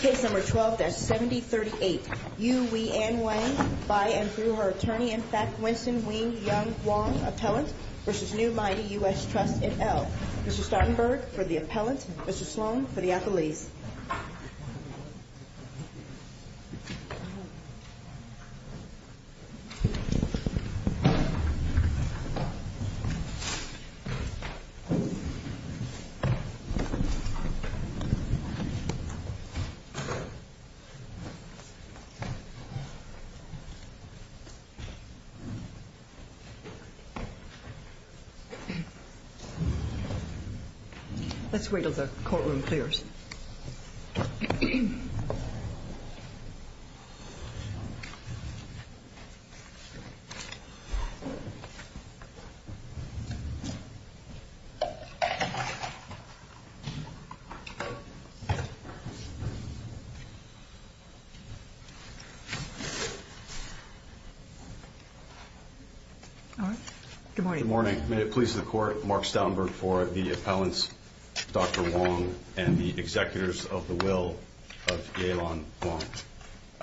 Case number 12-7038. Yu-Wei-An Wang, by and through her attorney, in fact, Winston Wing-Yung Huang, appellant, v. New Mighty U.S. Trust, in L. Mr. Startenberg, for the appellant. Mr. Sloan, for the appellees. Let's wait until the courtroom clears. All right. Good morning. Good morning. May it please the Court, Mark Startenberg for the appellants, Dr. Wang and the attorneys. I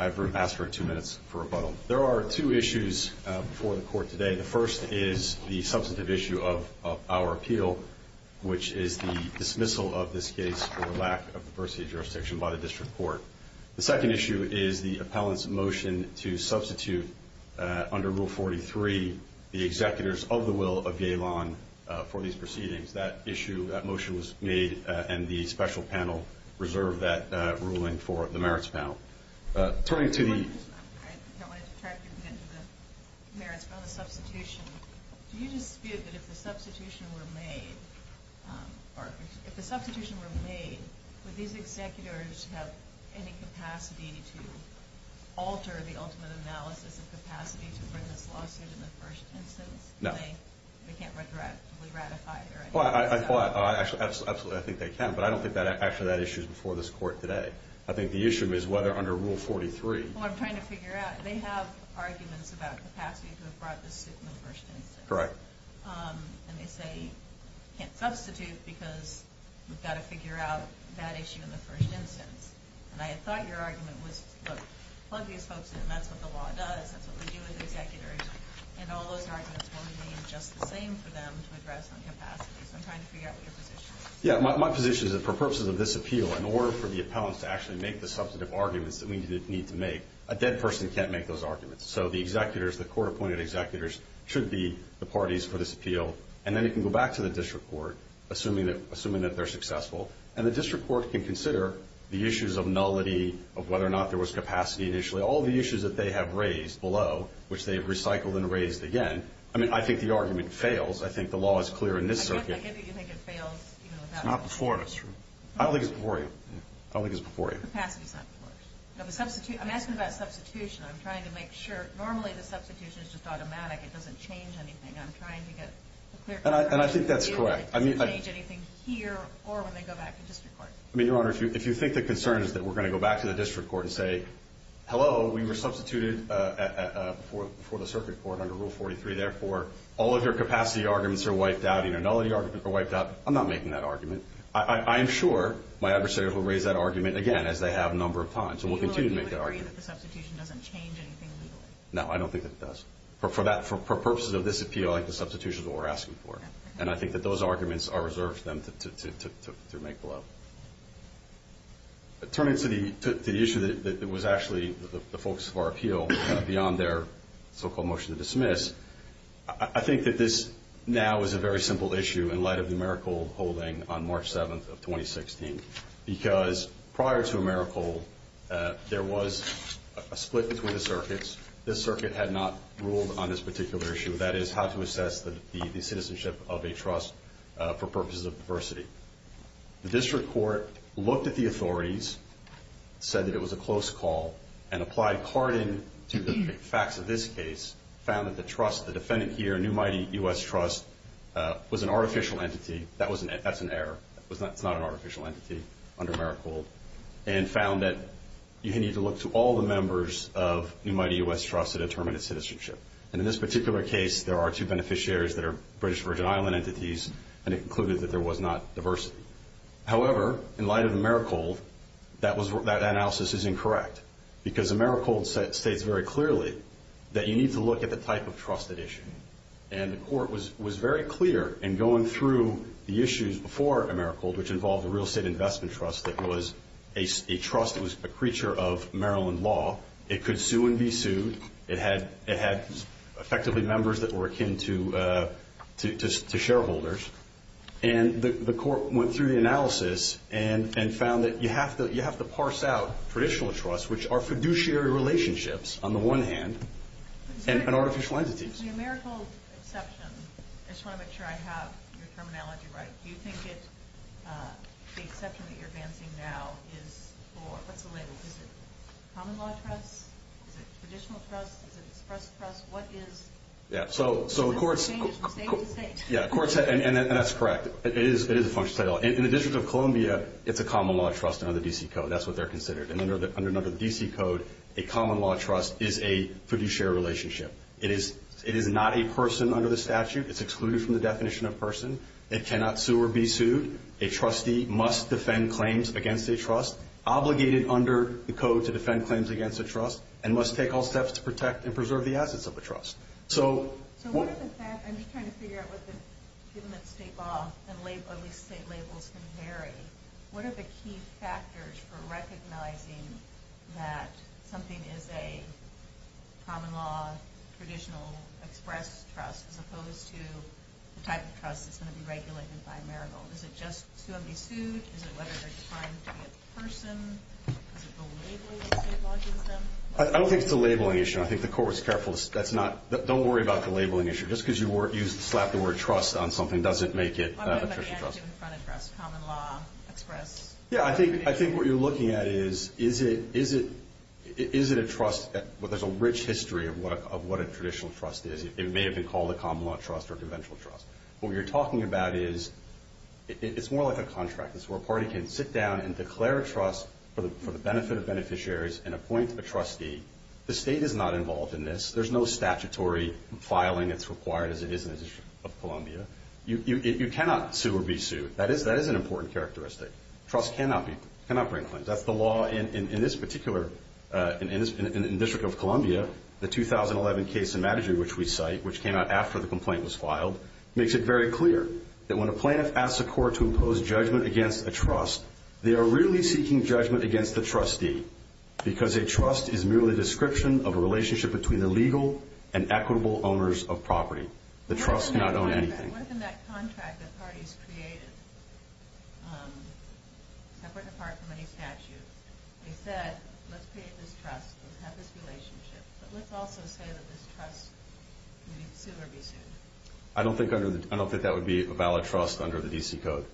have room to ask for two minutes for rebuttal. There are two issues before the Court today. The first is the substantive issue of our appeal, which is the dismissal of this case for lack of the per se jurisdiction by the district court. The second issue is the appellant's motion to substitute under Rule 43 the executors of the will of Yeh-lan for these proceedings. That issue, that motion was made, and the special panel reserved that ruling for the merits panel. Turning to the- I don't want to detract or contend with the merits, but on the substitution, do you dispute that if the substitution were made, or if the substitution were made, would these executors have any capacity to alter the ultimate analysis of capacity to bring this lawsuit in the first instance? No. They can't retroactively ratify it, right? I thought, absolutely, I think they can, but I don't think actually that issue is before this Court today. I think the issue is whether under Rule 43- Well, I'm trying to figure out. They have arguments about capacity to have brought this suit in the first instance. Correct. And they say, can't substitute because we've got to figure out that issue in the first instance. And I thought your argument was, look, plug these folks in. That's what the law does. That's what we do with executors. And all those arguments will remain just the same for them to address on capacity. So I'm trying to figure out what your position is. Yeah, my position is that for purposes of this appeal, in order for the appellants to actually make the substantive arguments that we need to make, a dead person can't make those arguments. So the executors, the court-appointed executors, should be the parties for this appeal. And then it can go back to the district court, assuming that they're successful. And the district court can consider the issues of nullity, of whether or not there was capacity initially. All the issues that they have raised below, which they have recycled and raised again. I mean, I think the argument fails. I think the law is clear in this circuit. I get that you think it fails. It's not before us. I don't think it's before you. I don't think it's before you. Capacity is not before us. I'm asking about substitution. I'm trying to make sure. Normally, the substitution is just automatic. It doesn't change anything. I'm trying to get a clear answer. And I think that's correct. It doesn't change anything here or when they go back to district court. I mean, Your Honor, if you think the concern is that we're going to go back to the district court and say, hello, we were substituted before the circuit court under Rule 43. Therefore, all of your capacity arguments are wiped out and your nullity arguments are wiped out. I'm not making that argument. I am sure my adversaries will raise that argument again, as they have a number of times. And we'll continue to make that argument. Do you agree that the substitution doesn't change anything legally? No, I don't think that it does. For purposes of this appeal, I think the substitution is what we're asking for. And I think that those arguments are reserved for them to make below. Turning to the issue that was actually the focus of our appeal beyond their so-called motion to dismiss, I think that this now is a very simple issue in light of the Maracle holding on March 7th of 2016. Because prior to Maracle, there was a split between the circuits. This circuit had not ruled on this particular issue. That is, how to assess the citizenship of a trust for purposes of diversity. The district court looked at the authorities, said that it was a close call, and applied carding to the facts of this case, found that the trust, the defendant here, New Mighty U.S. Trust, was an artificial entity. That's an error. It's not an artificial entity under Maracle. And found that you need to look to all the members of New Mighty U.S. Trust to determine its citizenship. And in this particular case, there are two beneficiaries that are British Virgin Island entities, and it concluded that there was not diversity. However, in light of Maracle, that analysis is incorrect. Because Maracle states very clearly that you need to look at the type of trusted issue. And the court was very clear in going through the issues before Maracle, which involved a real estate investment trust that was a trust that was a creature of Maryland law. It could sue and be sued. It had effectively members that were akin to shareholders. And the court went through the analysis and found that you have to parse out traditional trusts, which are fiduciary relationships on the one hand, and artificial entities. The Maracle exception, I just want to make sure I have your terminology right, do you think the exception that you're advancing now is for, what's the label? Is it common law trust? Is it traditional trust? Is it express trust? What is? Yeah. So the courts. Yeah. And that's correct. It is a functional title. In the District of Columbia, it's a common law trust under the D.C. Code. That's what they're considered. And under the D.C. Code, a common law trust is a fiduciary relationship. It is not a person under the statute. It's excluded from the definition of person. It cannot sue or be sued. A trustee must defend claims against a trust, obligated under the code to defend claims against a trust, and must take all steps to protect and preserve the assets of a trust. So what are the factors? I'm just trying to figure out what the, given that state law and at least state labels can vary, what are the key factors for recognizing that something is a common law, traditional express trust, as opposed to the type of trust that's going to be regulated by a marital? Is it just to have me sued? Is it whether they're trying to be a person? Is it the labeling that state law gives them? I don't think it's a labeling issue. I think the court was careful. That's not. Don't worry about the labeling issue. Just because you slap the word trust on something doesn't make it official trust. Common law, express. Yeah. I think what you're looking at is, is it a trust? There's a rich history of what a traditional trust is. It may have been called a common law trust or a conventional trust. What you're talking about is, it's more like a contract. It's where a party can sit down and declare a trust for the benefit of beneficiaries and appoint a trustee. The state is not involved in this. There's no statutory filing that's required, as it is in the District of Columbia. You cannot sue or be sued. That is an important characteristic. Trusts cannot bring claims. That's the law in this particular, in the District of Columbia. The 2011 case in Madigy, which we cite, which came out after the complaint was filed, makes it very clear that when a plaintiff asks a court to impose judgment against a trust, they are really seeking judgment against the trustee because a trust is merely a description of a relationship between the legal and equitable owners of property. The trust cannot own anything. What if in that contract that parties created, separate and apart from any statute, they said, let's create this trust, let's have this relationship, but let's also say that this trust can either sue or be sued? I don't think that would be a valid trust under the D.C. Code.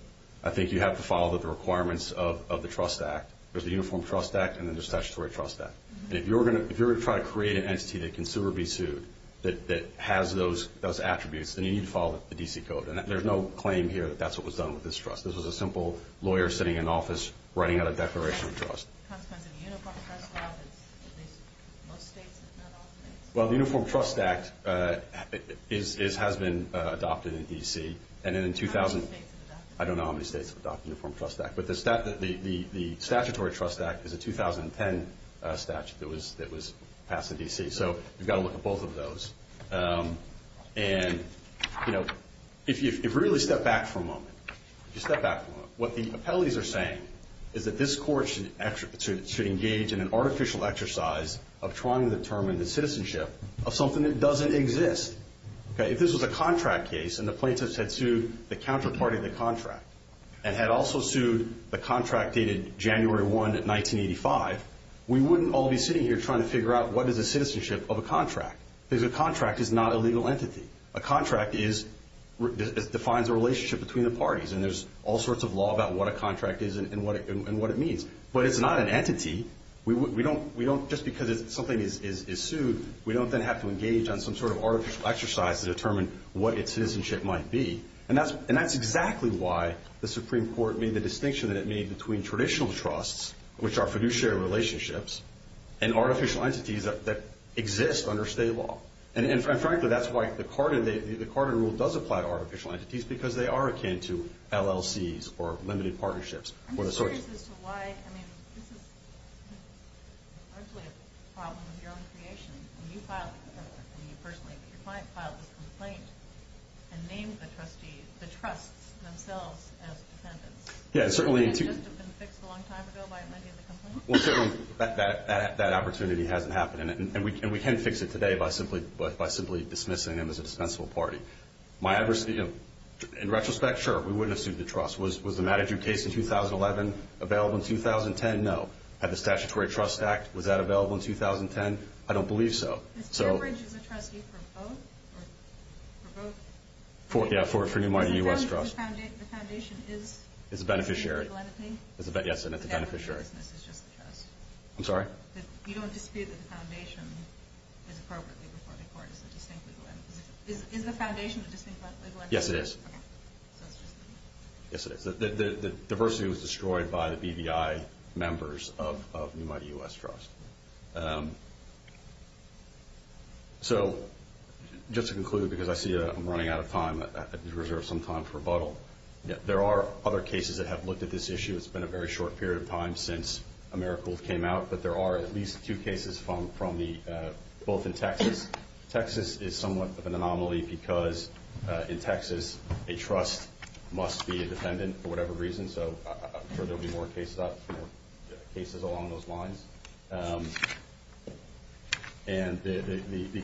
I think you have to follow the requirements of the Trust Act. There's the Uniform Trust Act and then there's the Statutory Trust Act. If you're going to try to create an entity that can sue or be sued that has those attributes, then you need to follow the D.C. Code, and there's no claim here that that's what was done with this trust. This was a simple lawyer sitting in an office writing out a declaration of trust. Well, the Uniform Trust Act has been adopted in D.C. I don't know how many states have adopted the Uniform Trust Act, but the Statutory Trust Act is a 2010 statute that was passed in D.C., so you've got to look at both of those. If you really step back for a moment, if you step back for a moment, what the appellees are saying is that this court should engage in an artificial exercise of trying to determine the citizenship of something that doesn't exist. If this was a contract case and the plaintiffs had sued the counterparty of the contract and had also sued the contract dated January 1, 1985, we wouldn't all be sitting here trying to figure out what is the citizenship of a contract because a contract is not a legal entity. A contract defines a relationship between the parties, and there's all sorts of law about what a contract is and what it means, but it's not an entity. Just because something is sued, we don't then have to engage on some sort of artificial exercise to determine what its citizenship might be, and that's exactly why the Supreme Court made the distinction that it made between traditional trusts, which are fiduciary relationships, and artificial entities that exist under state law. And frankly, that's why the Carden rule does apply to artificial entities because they are akin to LLCs or limited partnerships. I'm just curious as to why, I mean, this is largely a problem of your own creation. I mean, you filed the complaint, I mean, you personally, but your client filed this complaint and named the trustee, the trusts themselves as dependents. Yeah, certainly. Couldn't it just have been fixed a long time ago by an idea of the complaint? Well, that opportunity hasn't happened, and we can fix it today by simply dismissing them as a dispensable party. My adversity, in retrospect, sure, we wouldn't have sued the trust. Was the Mattadue case in 2011 available in 2010? No. Had the Statutory Trust Act, was that available in 2010? I don't believe so. Mr. Cambridge is a trustee for both? Yeah, for Newmarty U.S. Trust. The foundation is? It's a beneficiary. Yes, it's a beneficiary. I'm sorry? You don't dispute that the foundation is appropriately before the court? Is the foundation distinctly going to? Yes, it is. Okay. Yes, it is. The diversity was destroyed by the BVI members of Newmarty U.S. Trust. So, just to conclude, because I see I'm running out of time, I reserve some time for rebuttal. There are other cases that have looked at this issue. It's been a very short period of time since AmeriCorps came out, but there are at least two cases from both in Texas. Texas is somewhat of an anomaly because, in Texas, a trust must be a dependent for whatever reason. So, I'm sure there will be more cases along those lines. And the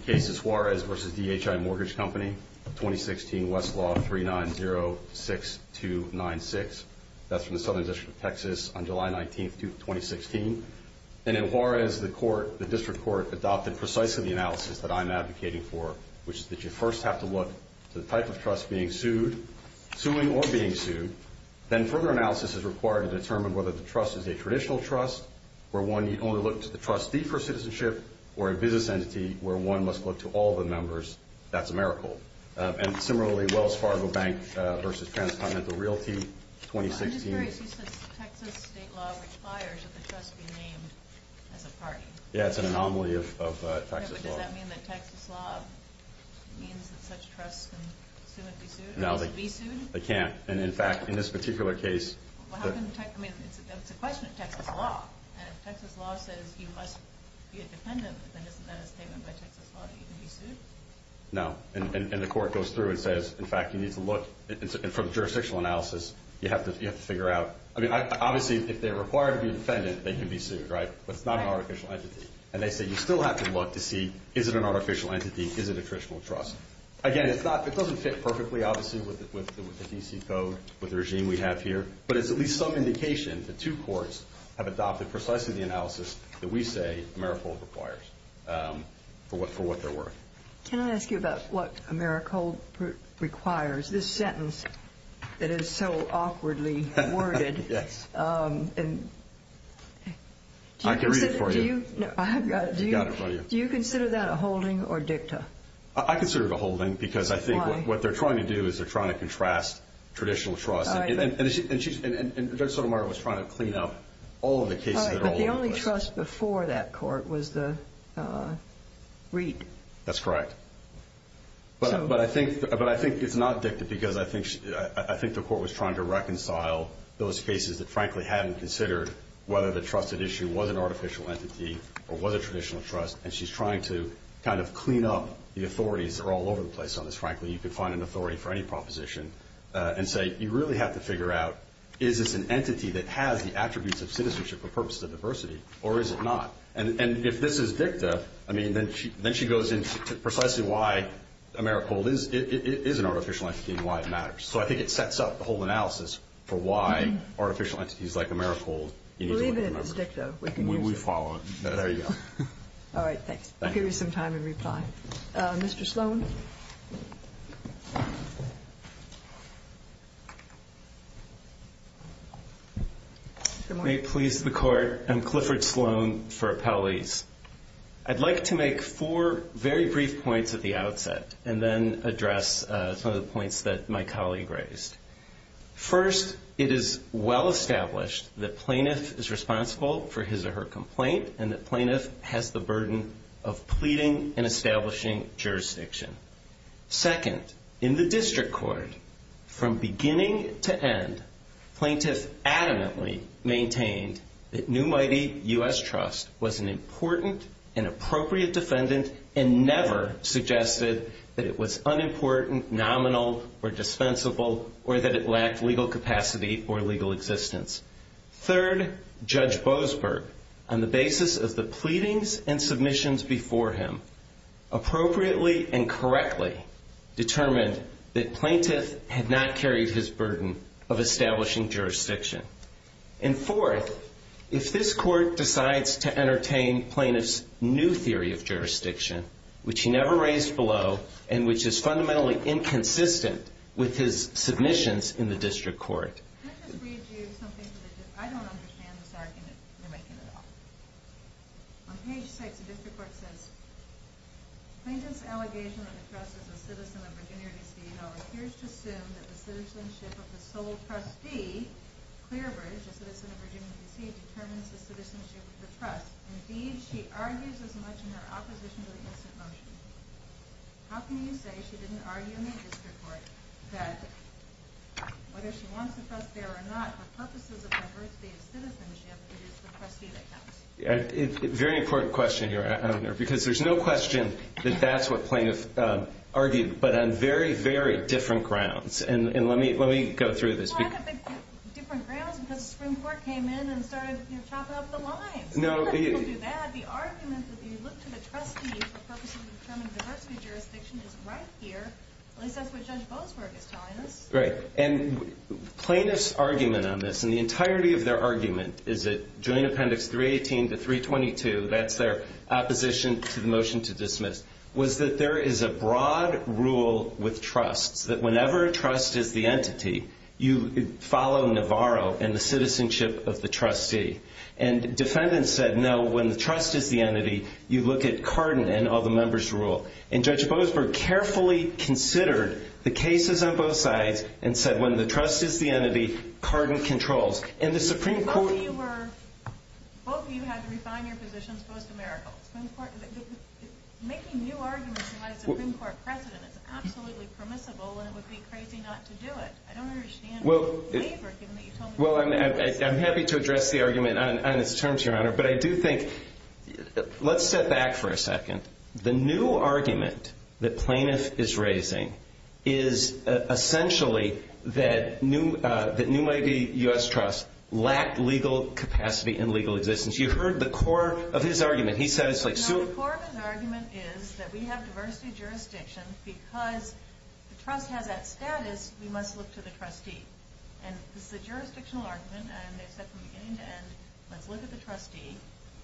case is Juarez v. DHI Mortgage Company, 2016, Westlaw 3906296. That's from the Southern District of Texas on July 19, 2016. And in Juarez, the court, the district court, adopted precisely the analysis that I'm advocating for, which is that you first have to look to the type of trust being sued, suing or being sued. Then further analysis is required to determine whether the trust is a traditional trust, where one only looks to the trustee for citizenship, or a business entity where one must look to all the members. That's AmeriCorps. And similarly, Wells Fargo Bank v. Transcontinental Realty, 2016. I'm just curious. You said the Texas state law requires that the trust be named as a party. Yeah, it's an anomaly of Texas law. But does that mean that Texas law means that such trusts can soon be sued? No, they can't. And, in fact, in this particular case. Well, how can – I mean, it's a question of Texas law. And if Texas law says you must be a dependent, then isn't that a statement by Texas law that you can be sued? No. And the court goes through and says, in fact, you need to look. And for the jurisdictional analysis, you have to figure out – I mean, obviously, if they're required to be a defendant, they can be sued, right? But it's not an artificial entity. And they say you still have to look to see is it an artificial entity, is it a traditional trust. Again, it's not – it doesn't fit perfectly, obviously, with the D.C. Code, with the regime we have here. But it's at least some indication that two courts have adopted precisely the analysis that we say AmeriCorps requires for what they're worth. Can I ask you about what AmeriCorps requires? This sentence that is so awkwardly worded. Yes. I can read it for you. No, I've got it. You've got it for you. Do you consider that a holding or dicta? I consider it a holding. Why? Because I think what they're trying to do is they're trying to contrast traditional trusts. And Judge Sotomayor was trying to clean up all of the cases that are all over the place. The trust before that court was the REAP. That's correct. But I think it's not dicta because I think the court was trying to reconcile those cases that frankly hadn't considered whether the trusted issue was an artificial entity or was a traditional trust. And she's trying to kind of clean up the authorities that are all over the place on this. Frankly, you could find an authority for any proposition and say you really have to figure out is this an entity that has the attributes of citizenship for purposes of diversity or is it not? And if this is dicta, then she goes into precisely why AmeriCorps is an artificial entity and why it matters. So I think it sets up the whole analysis for why artificial entities like AmeriCorps need to be remembered. Believe it, it's dicta. We follow it. There you go. All right. Thanks. I'll give you some time in reply. Mr. Sloan? If it may please the court, I'm Clifford Sloan for Appellees. I'd like to make four very brief points at the outset and then address some of the points that my colleague raised. First, it is well established that plaintiff is responsible for his or her complaint and that plaintiff has the burden of pleading and establishing jurisdiction. Second, in the district court, from beginning to end, plaintiff adamantly maintained that New Mighty U.S. Trust was an important and appropriate defendant and never suggested that it was unimportant, nominal, or dispensable, or that it lacked legal capacity or legal existence. Third, Judge Boasberg, on the basis of the pleadings and submissions before him, appropriately and correctly determined that plaintiff had not carried his burden of establishing jurisdiction. And fourth, if this court decides to entertain plaintiff's new theory of jurisdiction, which he never raised below and which is fundamentally inconsistent with his submissions in the district court. Can I just read you something? I don't understand this argument you're making at all. On page 6, the district court says, Plaintiff's allegation that the trust is a citizen of Virginia, D.C. though appears to assume that the citizenship of the sole trustee, Clearbridge, a citizen of Virginia, D.C., determines the citizenship of the trust. Indeed, she argues as much in her opposition to the instant motion. How can you say she didn't argue in the district court that whether she wants the trust there or not, for purposes of diversity of citizenship, it is the trustee that counts? Very important question here. Because there's no question that that's what plaintiff argued, but on very, very different grounds. And let me go through this. Different grounds because the Supreme Court came in and started chopping up the lines. No. People do that. The argument that you look to the trustee for purposes of determining diversity of jurisdiction is right here. At least that's what Judge Boasberg is telling us. Right. And plaintiff's argument on this, and the entirety of their argument is that joint appendix 318 to 322, that's their opposition to the motion to dismiss, was that there is a broad rule with trusts, that whenever a trust is the entity, you follow Navarro and the citizenship of the trustee. And defendants said, no, when the trust is the entity, you look at Cardin and all the members rule. And Judge Boasberg carefully considered the cases on both sides and said when the trust is the entity, Cardin controls. Both of you had to refine your positions post-America. Making new arguments in light of the Supreme Court precedent is absolutely permissible, and it would be crazy not to do it. I don't understand your waiver given that you told me that. Well, I'm happy to address the argument on its terms, Your Honor. But I do think, let's step back for a second. The new argument that Plaintiff is raising is essentially that new U.S. trusts lack legal capacity and legal existence. You heard the core of his argument. The core of his argument is that we have diversity of jurisdiction because the trust has that status, we must look to the trustee. And this is a jurisdictional argument, and they said from beginning to end, let's look at the trustee.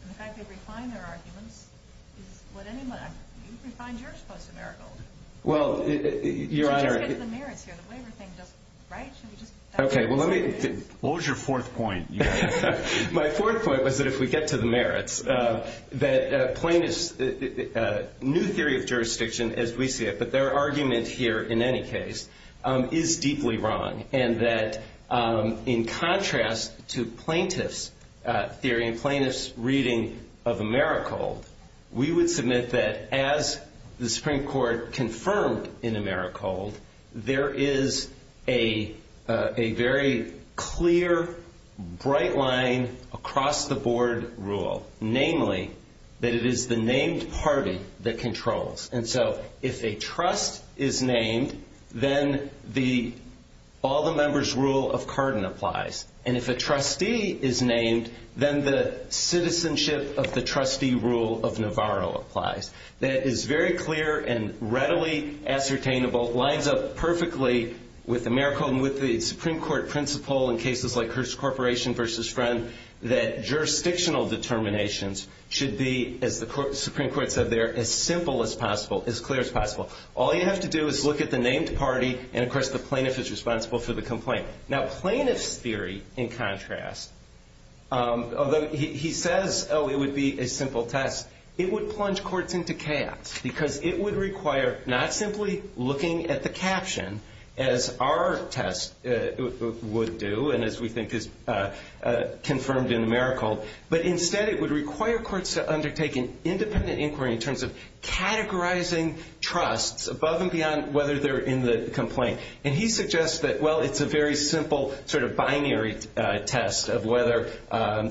And the fact they've refined their arguments is what anyone, you've refined yours post-America. Well, Your Honor. Let's just get to the merits here. The waiver thing doesn't, right? Okay, well, let me. What was your fourth point? My fourth point was that if we get to the merits, that Plaintiff's new theory of jurisdiction, as we see it, but their argument here in any case, is deeply wrong and that in contrast to Plaintiff's theory and Plaintiff's reading of Americold, we would submit that as the Supreme Court confirmed in Americold, there is a very clear, bright line across the board rule, namely, that it is the named party that controls. And so if a trust is named, then all the members' rule of Carden applies. And if a trustee is named, then the citizenship of the trustee rule of Navarro applies. That is very clear and readily ascertainable, lines up perfectly with Americold and with the Supreme Court principle in cases like Hearst Corporation versus Friend, that jurisdictional determinations should be, as the Supreme Court said there, as simple as possible, as clear as possible. All you have to do is look at the named party and, of course, the Plaintiff is responsible for the complaint. Now, Plaintiff's theory, in contrast, although he says, oh, it would be a simple test, it would plunge courts into chaos because it would require not simply looking at the caption, as our test would do and as we think is confirmed in Americold, but instead it would require courts to undertake an independent inquiry in terms of categorizing trusts above and beyond whether they're in the complaint. And he suggests that, well, it's a very simple sort of binary test of whether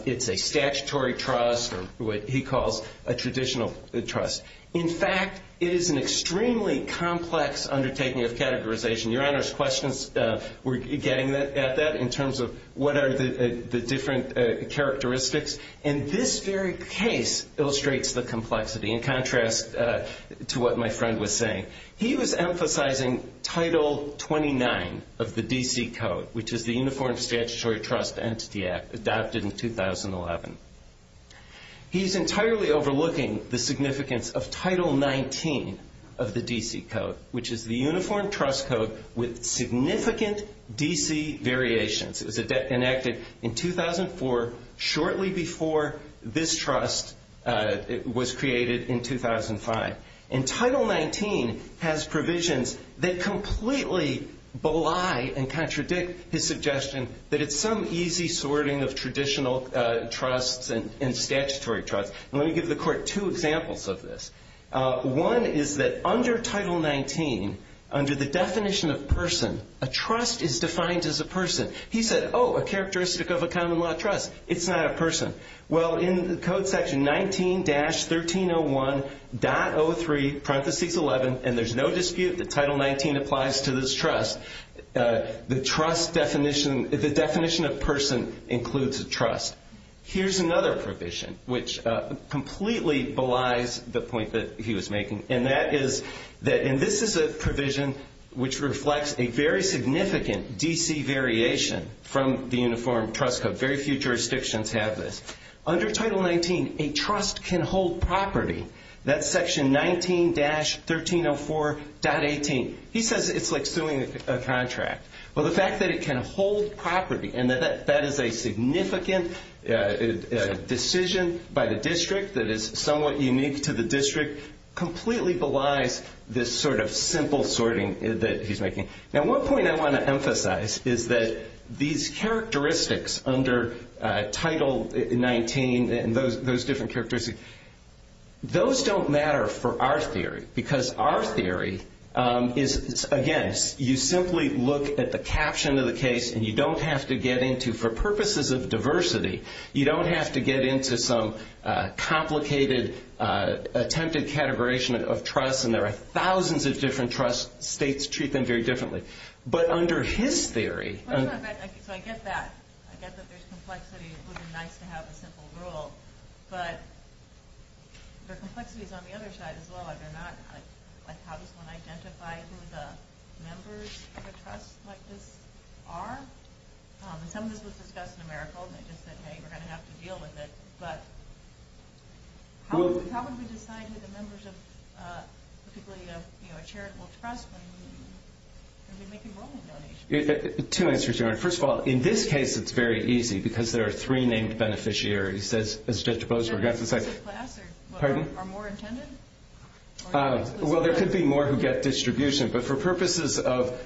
it's a statutory trust or what he calls a traditional trust. In fact, it is an extremely complex undertaking of categorization. Your Honor's questions were getting at that in terms of what are the different characteristics. And this very case illustrates the complexity in contrast to what my friend was saying. He was emphasizing Title 29 of the D.C. Code, which is the Uniform Statutory Trust Entity Act adopted in 2011. He's entirely overlooking the significance of Title 19 of the D.C. Code, which is the Uniform Trust Code with significant D.C. variations. It was enacted in 2004, shortly before this trust was created in 2005. And Title 19 has provisions that completely belie and contradict his suggestion that it's some easy sorting of traditional trusts and statutory trusts. And let me give the Court two examples of this. One is that under Title 19, under the definition of person, a trust is defined as a person. He said, oh, a characteristic of a common law trust. It's not a person. Well, in the Code section 19-1301.03, parentheses 11, and there's no dispute that Title 19 applies to this trust, the trust definition, the definition of person includes a trust. Here's another provision, which completely belies the point that he was making, and that is that this is a provision which reflects a very significant D.C. variation from the Uniform Trust Code. Very few jurisdictions have this. Under Title 19, a trust can hold property. That's section 19-1304.18. He says it's like suing a contract. Well, the fact that it can hold property and that that is a significant decision by the district that is somewhat unique to the district completely belies this sort of simple sorting that he's making. Now, one point I want to emphasize is that these characteristics under Title 19 and those different characteristics, those don't matter for our theory because our theory is, again, you simply look at the caption of the case and you don't have to get into, for purposes of diversity, you don't have to get into some complicated, attempted categorization of trusts, and there are thousands of different trusts. States treat them very differently. So I get that. I get that there's complexity. It would be nice to have a simple rule, but there are complexities on the other side as well. How does one identify who the members of a trust like this are? Some of this was discussed in AmeriCorps, and they just said, hey, we're going to have to deal with it, but how would we decide who the members of a charitable trust are when we make enrollment donations? Two answers, Your Honor. First of all, in this case, it's very easy because there are three named beneficiaries, as Judge Boswer got to say. Are more intended? Well, there could be more who get distribution, but for purposes of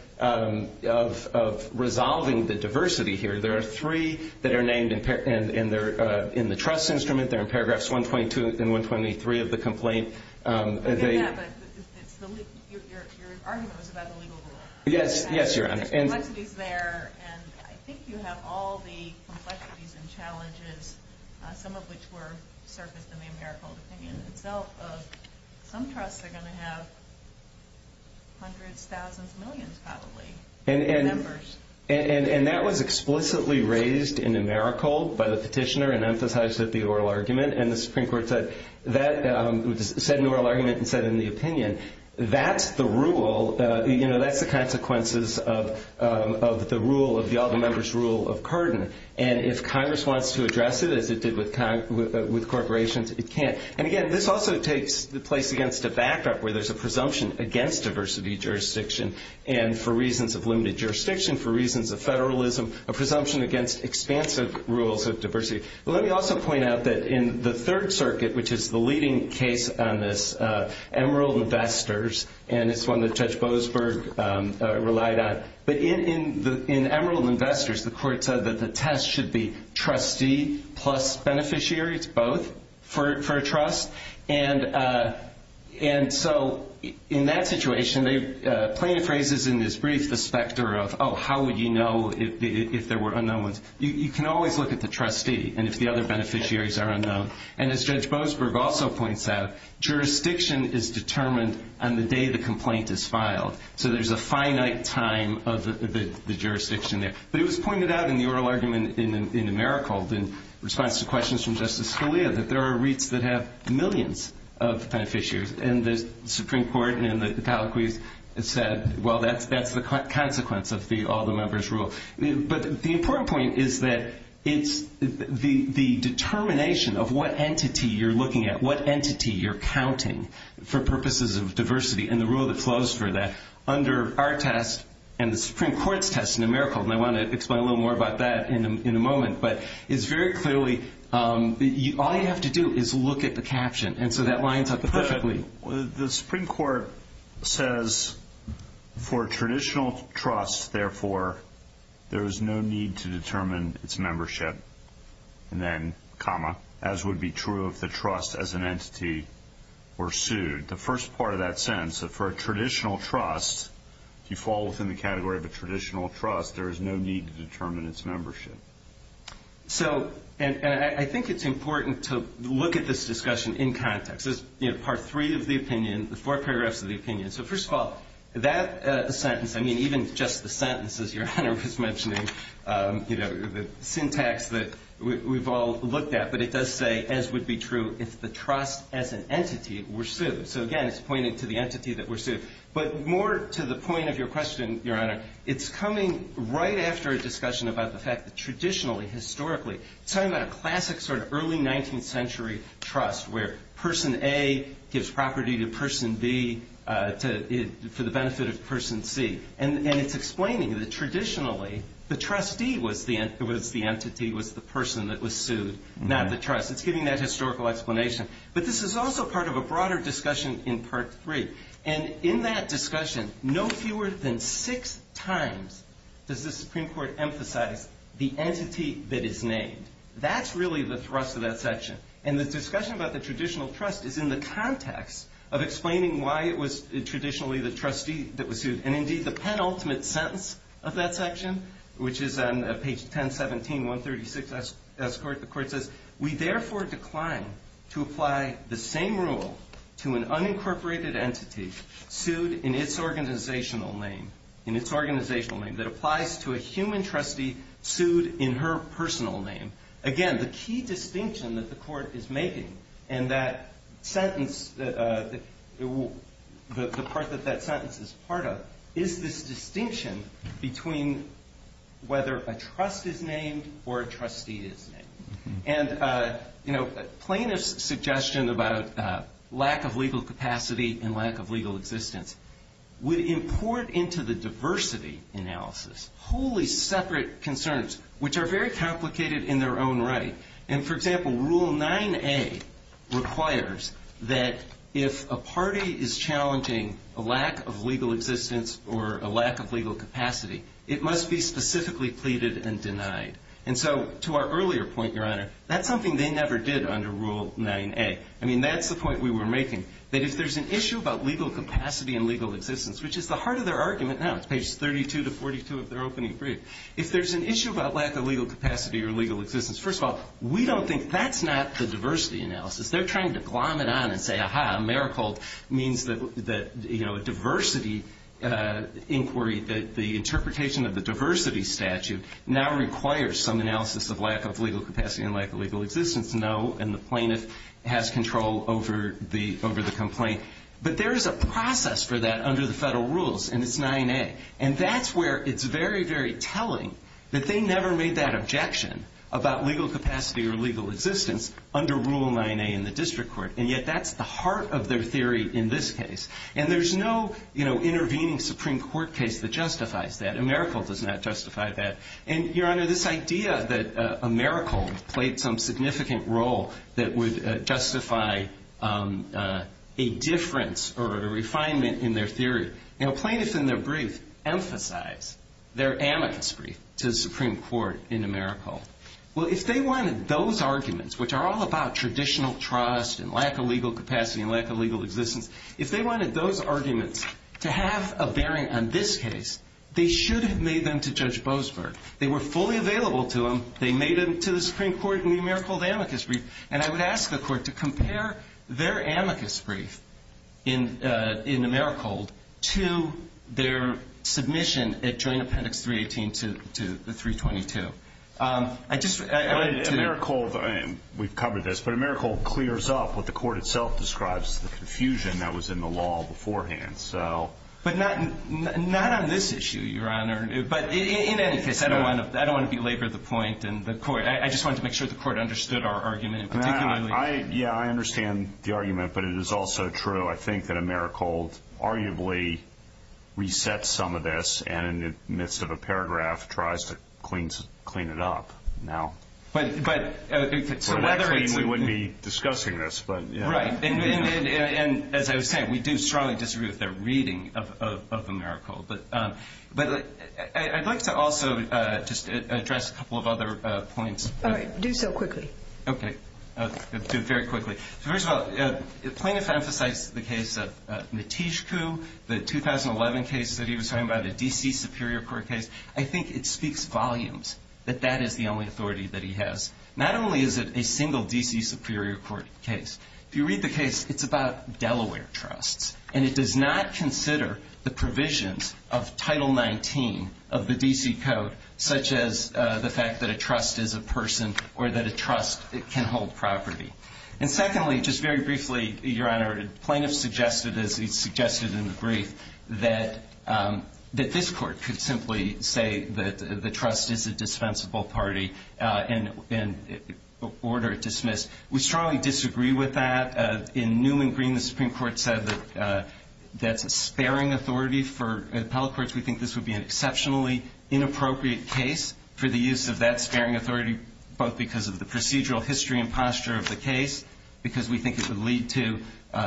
resolving the diversity here, there are three that are named in the trust instrument. They're in paragraphs 122 and 123 of the complaint. I get that, but your argument was about the legal rule. Yes, Your Honor. There's complexities there, and I think you have all the complexities and challenges, some of which were surfaced in the AmeriCorps opinion itself of some trusts are going to have hundreds, thousands, millions probably of members. And that was explicitly raised in AmeriCorps by the petitioner and emphasized at the oral argument, and the Supreme Court said in the oral argument and said in the opinion, that's the rule. You know, that's the consequences of the rule of the all-members rule of Carden, and if Congress wants to address it as it did with corporations, it can't. And, again, this also takes the place against a backup where there's a presumption against diversity jurisdiction, and for reasons of limited jurisdiction, for reasons of federalism, a presumption against expansive rules of diversity. Let me also point out that in the Third Circuit, which is the leading case on this, Emerald Investors, and it's one that Judge Boasberg relied on, but in Emerald Investors, the court said that the test should be trustee plus beneficiary. It's both for a trust. And so in that situation, plaintiff raises in this brief the specter of, oh, how would you know if there were unknown ones? You can always look at the trustee and if the other beneficiaries are unknown. And as Judge Boasberg also points out, jurisdiction is determined on the day the complaint is filed. So there's a finite time of the jurisdiction there. But it was pointed out in the oral argument in Emerald in response to questions from Justice Scalia that there are REITs that have millions of beneficiaries, and the Supreme Court in the title quiz said, well, that's the consequence of the all-the-members rule. But the important point is that it's the determination of what entity you're looking at, what entity you're counting for purposes of diversity, and the rule that flows for that. Under our test and the Supreme Court's test, numerical, and I want to explain a little more about that in a moment, but it's very clearly all you have to do is look at the caption, and so that lines up perfectly. The Supreme Court says, for a traditional trust, therefore, there is no need to determine its membership, and then comma, as would be true if the trust as an entity were sued. The first part of that sentence, for a traditional trust, if you fall within the category of a traditional trust, there is no need to determine its membership. So, and I think it's important to look at this discussion in context. There's part three of the opinion, the four paragraphs of the opinion. So, first of all, that sentence, I mean, even just the sentence, as Your Honor was mentioning, the syntax that we've all looked at, but it does say, as would be true if the trust as an entity were sued. So, again, it's pointing to the entity that were sued. But more to the point of your question, Your Honor, it's coming right after a discussion about the fact that traditionally, historically, it's talking about a classic sort of early 19th century trust where person A gives property to person B for the benefit of person C. And it's explaining that traditionally, the trustee was the entity, was the person that was sued, not the trust. It's giving that historical explanation. But this is also part of a broader discussion in part three. And in that discussion, no fewer than six times does the Supreme Court emphasize the entity that is named. That's really the thrust of that section. And the discussion about the traditional trust is in the context of explaining why it was traditionally the trustee that was sued. And, indeed, the penultimate sentence of that section, which is on page 1017, 136 S. We therefore decline to apply the same rule to an unincorporated entity sued in its organizational name, in its organizational name, that applies to a human trustee sued in her personal name. Again, the key distinction that the court is making in that sentence, the part that that sentence is part of, is this distinction between whether a trust is named or a trustee is named. And, you know, plaintiff's suggestion about lack of legal capacity and lack of legal existence would import into the diversity analysis wholly separate concerns, which are very complicated in their own right. And, for example, Rule 9A requires that if a party is challenging a lack of legal existence or a lack of legal capacity, it must be specifically pleaded and denied. And so to our earlier point, Your Honor, that's something they never did under Rule 9A. I mean, that's the point we were making, that if there's an issue about legal capacity and legal existence, which is the heart of their argument now, it's pages 32 to 42 of their opening brief. If there's an issue about lack of legal capacity or legal existence, first of all, we don't think that's not the diversity analysis. They're trying to glom it on and say, aha, Mericold means that, you know, a diversity inquiry, that the interpretation of the diversity statute now requires some analysis of lack of legal capacity and lack of legal existence. No, and the plaintiff has control over the complaint. But there is a process for that under the federal rules, and it's 9A. And that's where it's very, very telling that they never made that objection about legal capacity or legal existence under Rule 9A in the district court. And yet that's the heart of their theory in this case. And there's no, you know, intervening Supreme Court case that justifies that. Mericold does not justify that. And, Your Honor, this idea that Mericold played some significant role that would justify a difference or a refinement in their theory, you know, plaintiffs in their brief emphasize their amicus brief to the Supreme Court in Mericold. Well, if they wanted those arguments, which are all about traditional trust and lack of legal capacity and lack of legal existence, if they wanted those arguments to have a bearing on this case, they should have made them to Judge Boasberg. They were fully available to him. They made them to the Supreme Court in the Mericold amicus brief. And I would ask the court to compare their amicus brief in Mericold to their submission at Joint Appendix 318 to 322. I just wanted to – Mericold, we've covered this, but Mericold clears up what the court itself describes, the confusion that was in the law beforehand. But not on this issue, Your Honor. But in any case, I don't want to belabor the point. I just wanted to make sure the court understood our argument in particular. Yeah, I understand the argument, but it is also true, I think, that Mericold arguably resets some of this and in the midst of a paragraph tries to clean it up now. We wouldn't be discussing this. Right. And as I was saying, we do strongly disagree with their reading of Mericold. But I'd like to also just address a couple of other points. All right. Do so quickly. Okay. I'll do it very quickly. First of all, the plaintiff emphasized the case of Nitishku, the 2011 case that he was talking about, the D.C. Superior Court case. I think it speaks volumes that that is the only authority that he has. Not only is it a single D.C. Superior Court case. If you read the case, it's about Delaware trusts. And it does not consider the provisions of Title 19 of the D.C. Code, such as the fact that a trust is a person or that a trust can hold property. And secondly, just very briefly, Your Honor, the plaintiff suggested, as he suggested in the brief, that this court could simply say that the trust is a dispensable party and order it dismissed. We strongly disagree with that. In Newman Green, the Supreme Court said that that's a sparing authority for appellate courts. We think this would be an exceptionally inappropriate case for the use of that sparing authority, both because of the procedural history and posture of the case, because we think it would lead to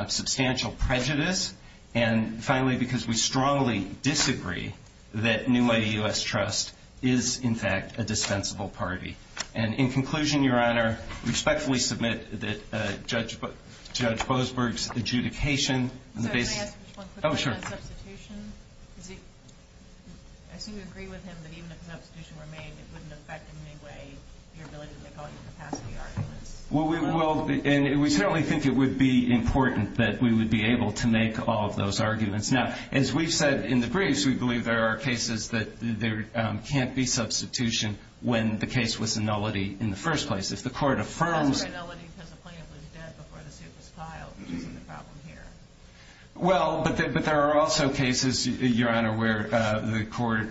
substantial prejudice. And finally, because we strongly disagree that New Lady U.S. Trust is, in fact, a dispensable party. And in conclusion, Your Honor, we respectfully submit that Judge Boasberg's adjudication in the case of – Can I ask just one quick thing on substitution? Oh, sure. I assume you agree with him that even if an substitution were made, it wouldn't affect in any way your ability to make all your capacity arguments? Well, we certainly think it would be important that we would be able to make all of those arguments. Now, as we've said in the briefs, we believe there are cases that there can't be substitution when the case was a nullity in the first place. If the court affirms – That's why it's a nullity because the plaintiff was dead before the suit was filed, which isn't the problem here. Well, but there are also cases, Your Honor, where the court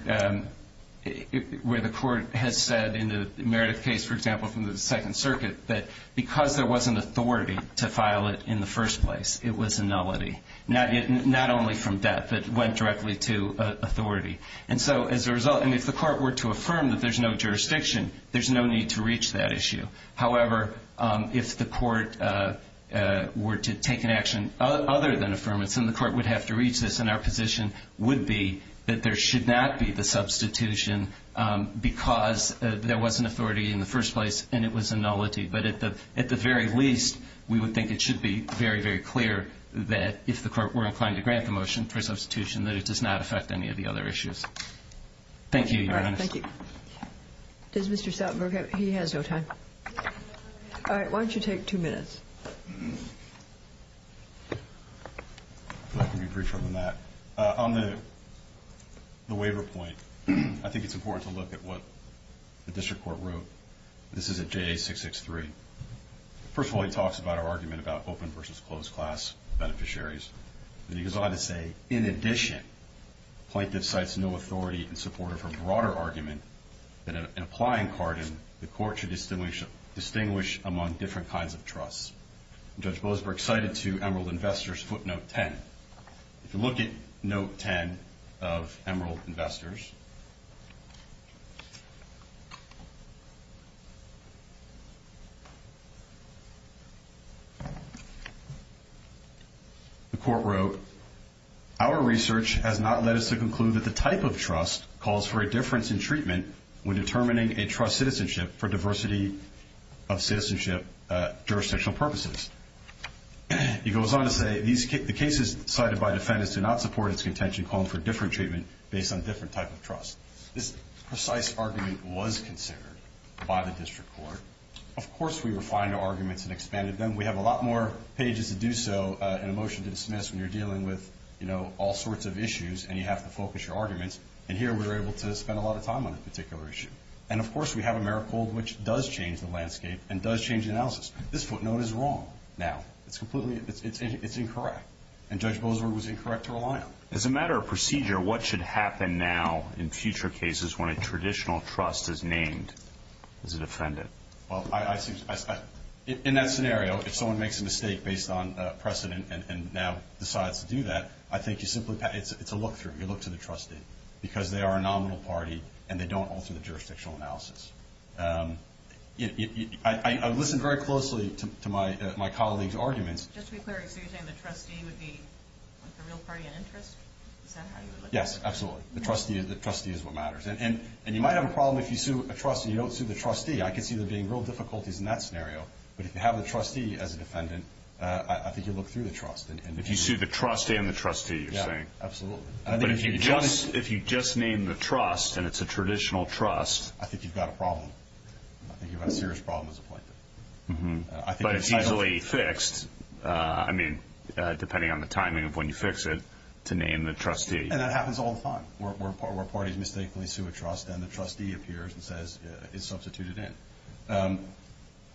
has said in the Meredith case, for example, from the Second Circuit, that because there wasn't authority to file it in the first place, it was a nullity. Not only from death, but it went directly to authority. And so as a result – and if the court were to affirm that there's no jurisdiction, there's no need to reach that issue. However, if the court were to take an action other than affirmance, then the court would have to reach this, and our position would be that there should not be the substitution because there wasn't authority in the first place and it was a nullity. But at the very least, we would think it should be very, very clear that if the court were inclined to grant the motion for substitution, that it does not affect any of the other issues. Thank you, Your Honor. All right. Thank you. Does Mr. Soutenberg have – he has no time. All right. Why don't you take two minutes? I can be briefer than that. On the waiver point, I think it's important to look at what the district court wrote. This is at JA663. First of all, he talks about our argument about open versus closed class beneficiaries. And he goes on to say, in addition, plaintiff cites no authority in support of her broader argument that an applying card in the court should distinguish among different kinds of trusts. Judge Boasberg cited to Emerald Investors footnote 10. If you look at note 10 of Emerald Investors, the court wrote, our research has not led us to conclude that the type of trust calls for a difference in treatment when determining a trust citizenship for diversity of citizenship jurisdictional purposes. He goes on to say, the cases cited by defendants do not support its contention calling for different treatment based on different type of trust. This precise argument was considered by the district court. Of course, we refined our arguments and expanded them. We have a lot more pages to do so in a motion to dismiss when you're dealing with, you know, all sorts of issues and you have to focus your arguments. And here we were able to spend a lot of time on a particular issue. And, of course, we have AmeriCold, which does change the landscape and does change the analysis. This footnote is wrong now. It's completely, it's incorrect. And Judge Boasberg was incorrect to rely on. As a matter of procedure, what should happen now in future cases when a traditional trust is named as a defendant? Well, in that scenario, if someone makes a mistake based on precedent and now decides to do that, I think you simply, it's a look through. You look to the trustee because they are a nominal party and they don't alter the jurisdictional analysis. I listened very closely to my colleague's arguments. Just to be clear, so you're saying the trustee would be the real party in interest? Is that how you would look at it? Yes, absolutely. The trustee is what matters. And you might have a problem if you sue a trustee and you don't sue the trustee. I could see there being real difficulties in that scenario. But if you have the trustee as a defendant, I think you look through the trust. If you sue the trustee and the trustee, you're saying. Yeah, absolutely. But if you just name the trust and it's a traditional trust. I think you've got a problem. I think you've got a serious problem as a plaintiff. But it's easily fixed. I mean, depending on the timing of when you fix it to name the trustee. And that happens all the time where parties mistakenly sue a trust and the trustee appears and says it's substituted in.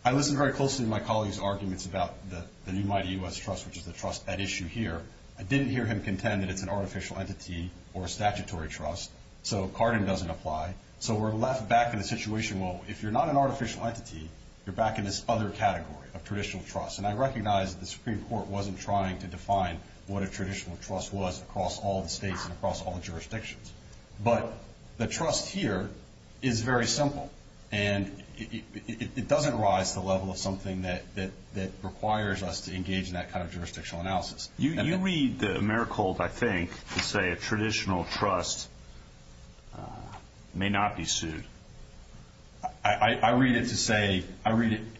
I listened very closely to my colleague's arguments about the new mighty U.S. trust, which is the trust at issue here. I didn't hear him contend that it's an artificial entity or a statutory trust. So Carden doesn't apply. So we're left back in the situation, well, if you're not an artificial entity, you're back in this other category of traditional trust. And I recognize the Supreme Court wasn't trying to define what a traditional trust was across all the states and across all the jurisdictions. But the trust here is very simple. And it doesn't rise to the level of something that requires us to engage in that kind of jurisdictional analysis. You read the Mericold, I think, to say a traditional trust may not be sued. I read it to say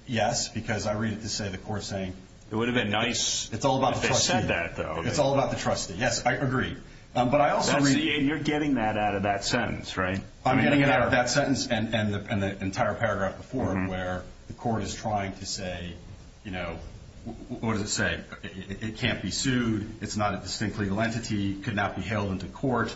yes because I read it to say the court is saying it's all about the trustee. It would have been nice if they said that, though. It's all about the trustee. Yes, I agree. And you're getting that out of that sentence, right? I'm getting it out of that sentence and the entire paragraph before it where the court is trying to say, you know, what does it say? It can't be sued. It's not a distinct legal entity. It could not be hailed into court.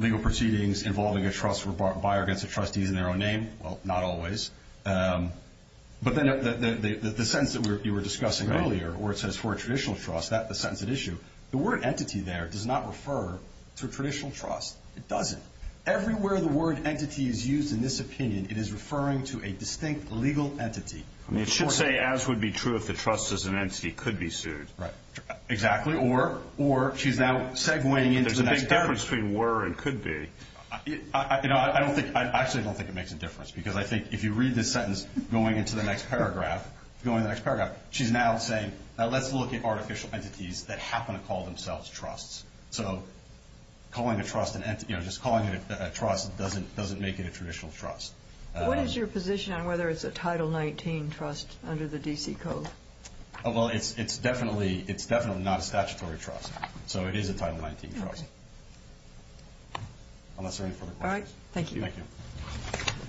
Legal proceedings involving a trust were barred by or against the trustees in their own name. Well, not always. But then the sentence that you were discussing earlier where it says for a traditional trust, the sentence at issue, the word entity there does not refer to a traditional trust. It doesn't. Everywhere the word entity is used in this opinion, it is referring to a distinct legal entity. It should say as would be true if the trust as an entity could be sued. Right. Exactly. Or she's now segueing into the next paragraph. There's a big difference between were and could be. You know, I actually don't think it makes a difference because I think if you read this sentence going into the next paragraph, she's now saying now let's look at artificial entities that happen to call themselves trusts. So calling a trust an entity or just calling it a trust doesn't make it a traditional trust. What is your position on whether it's a Title 19 trust under the D.C. Code? Well, it's definitely not a statutory trust. So it is a Title 19 trust. Okay. Unless there are any further questions. All right. Thank you.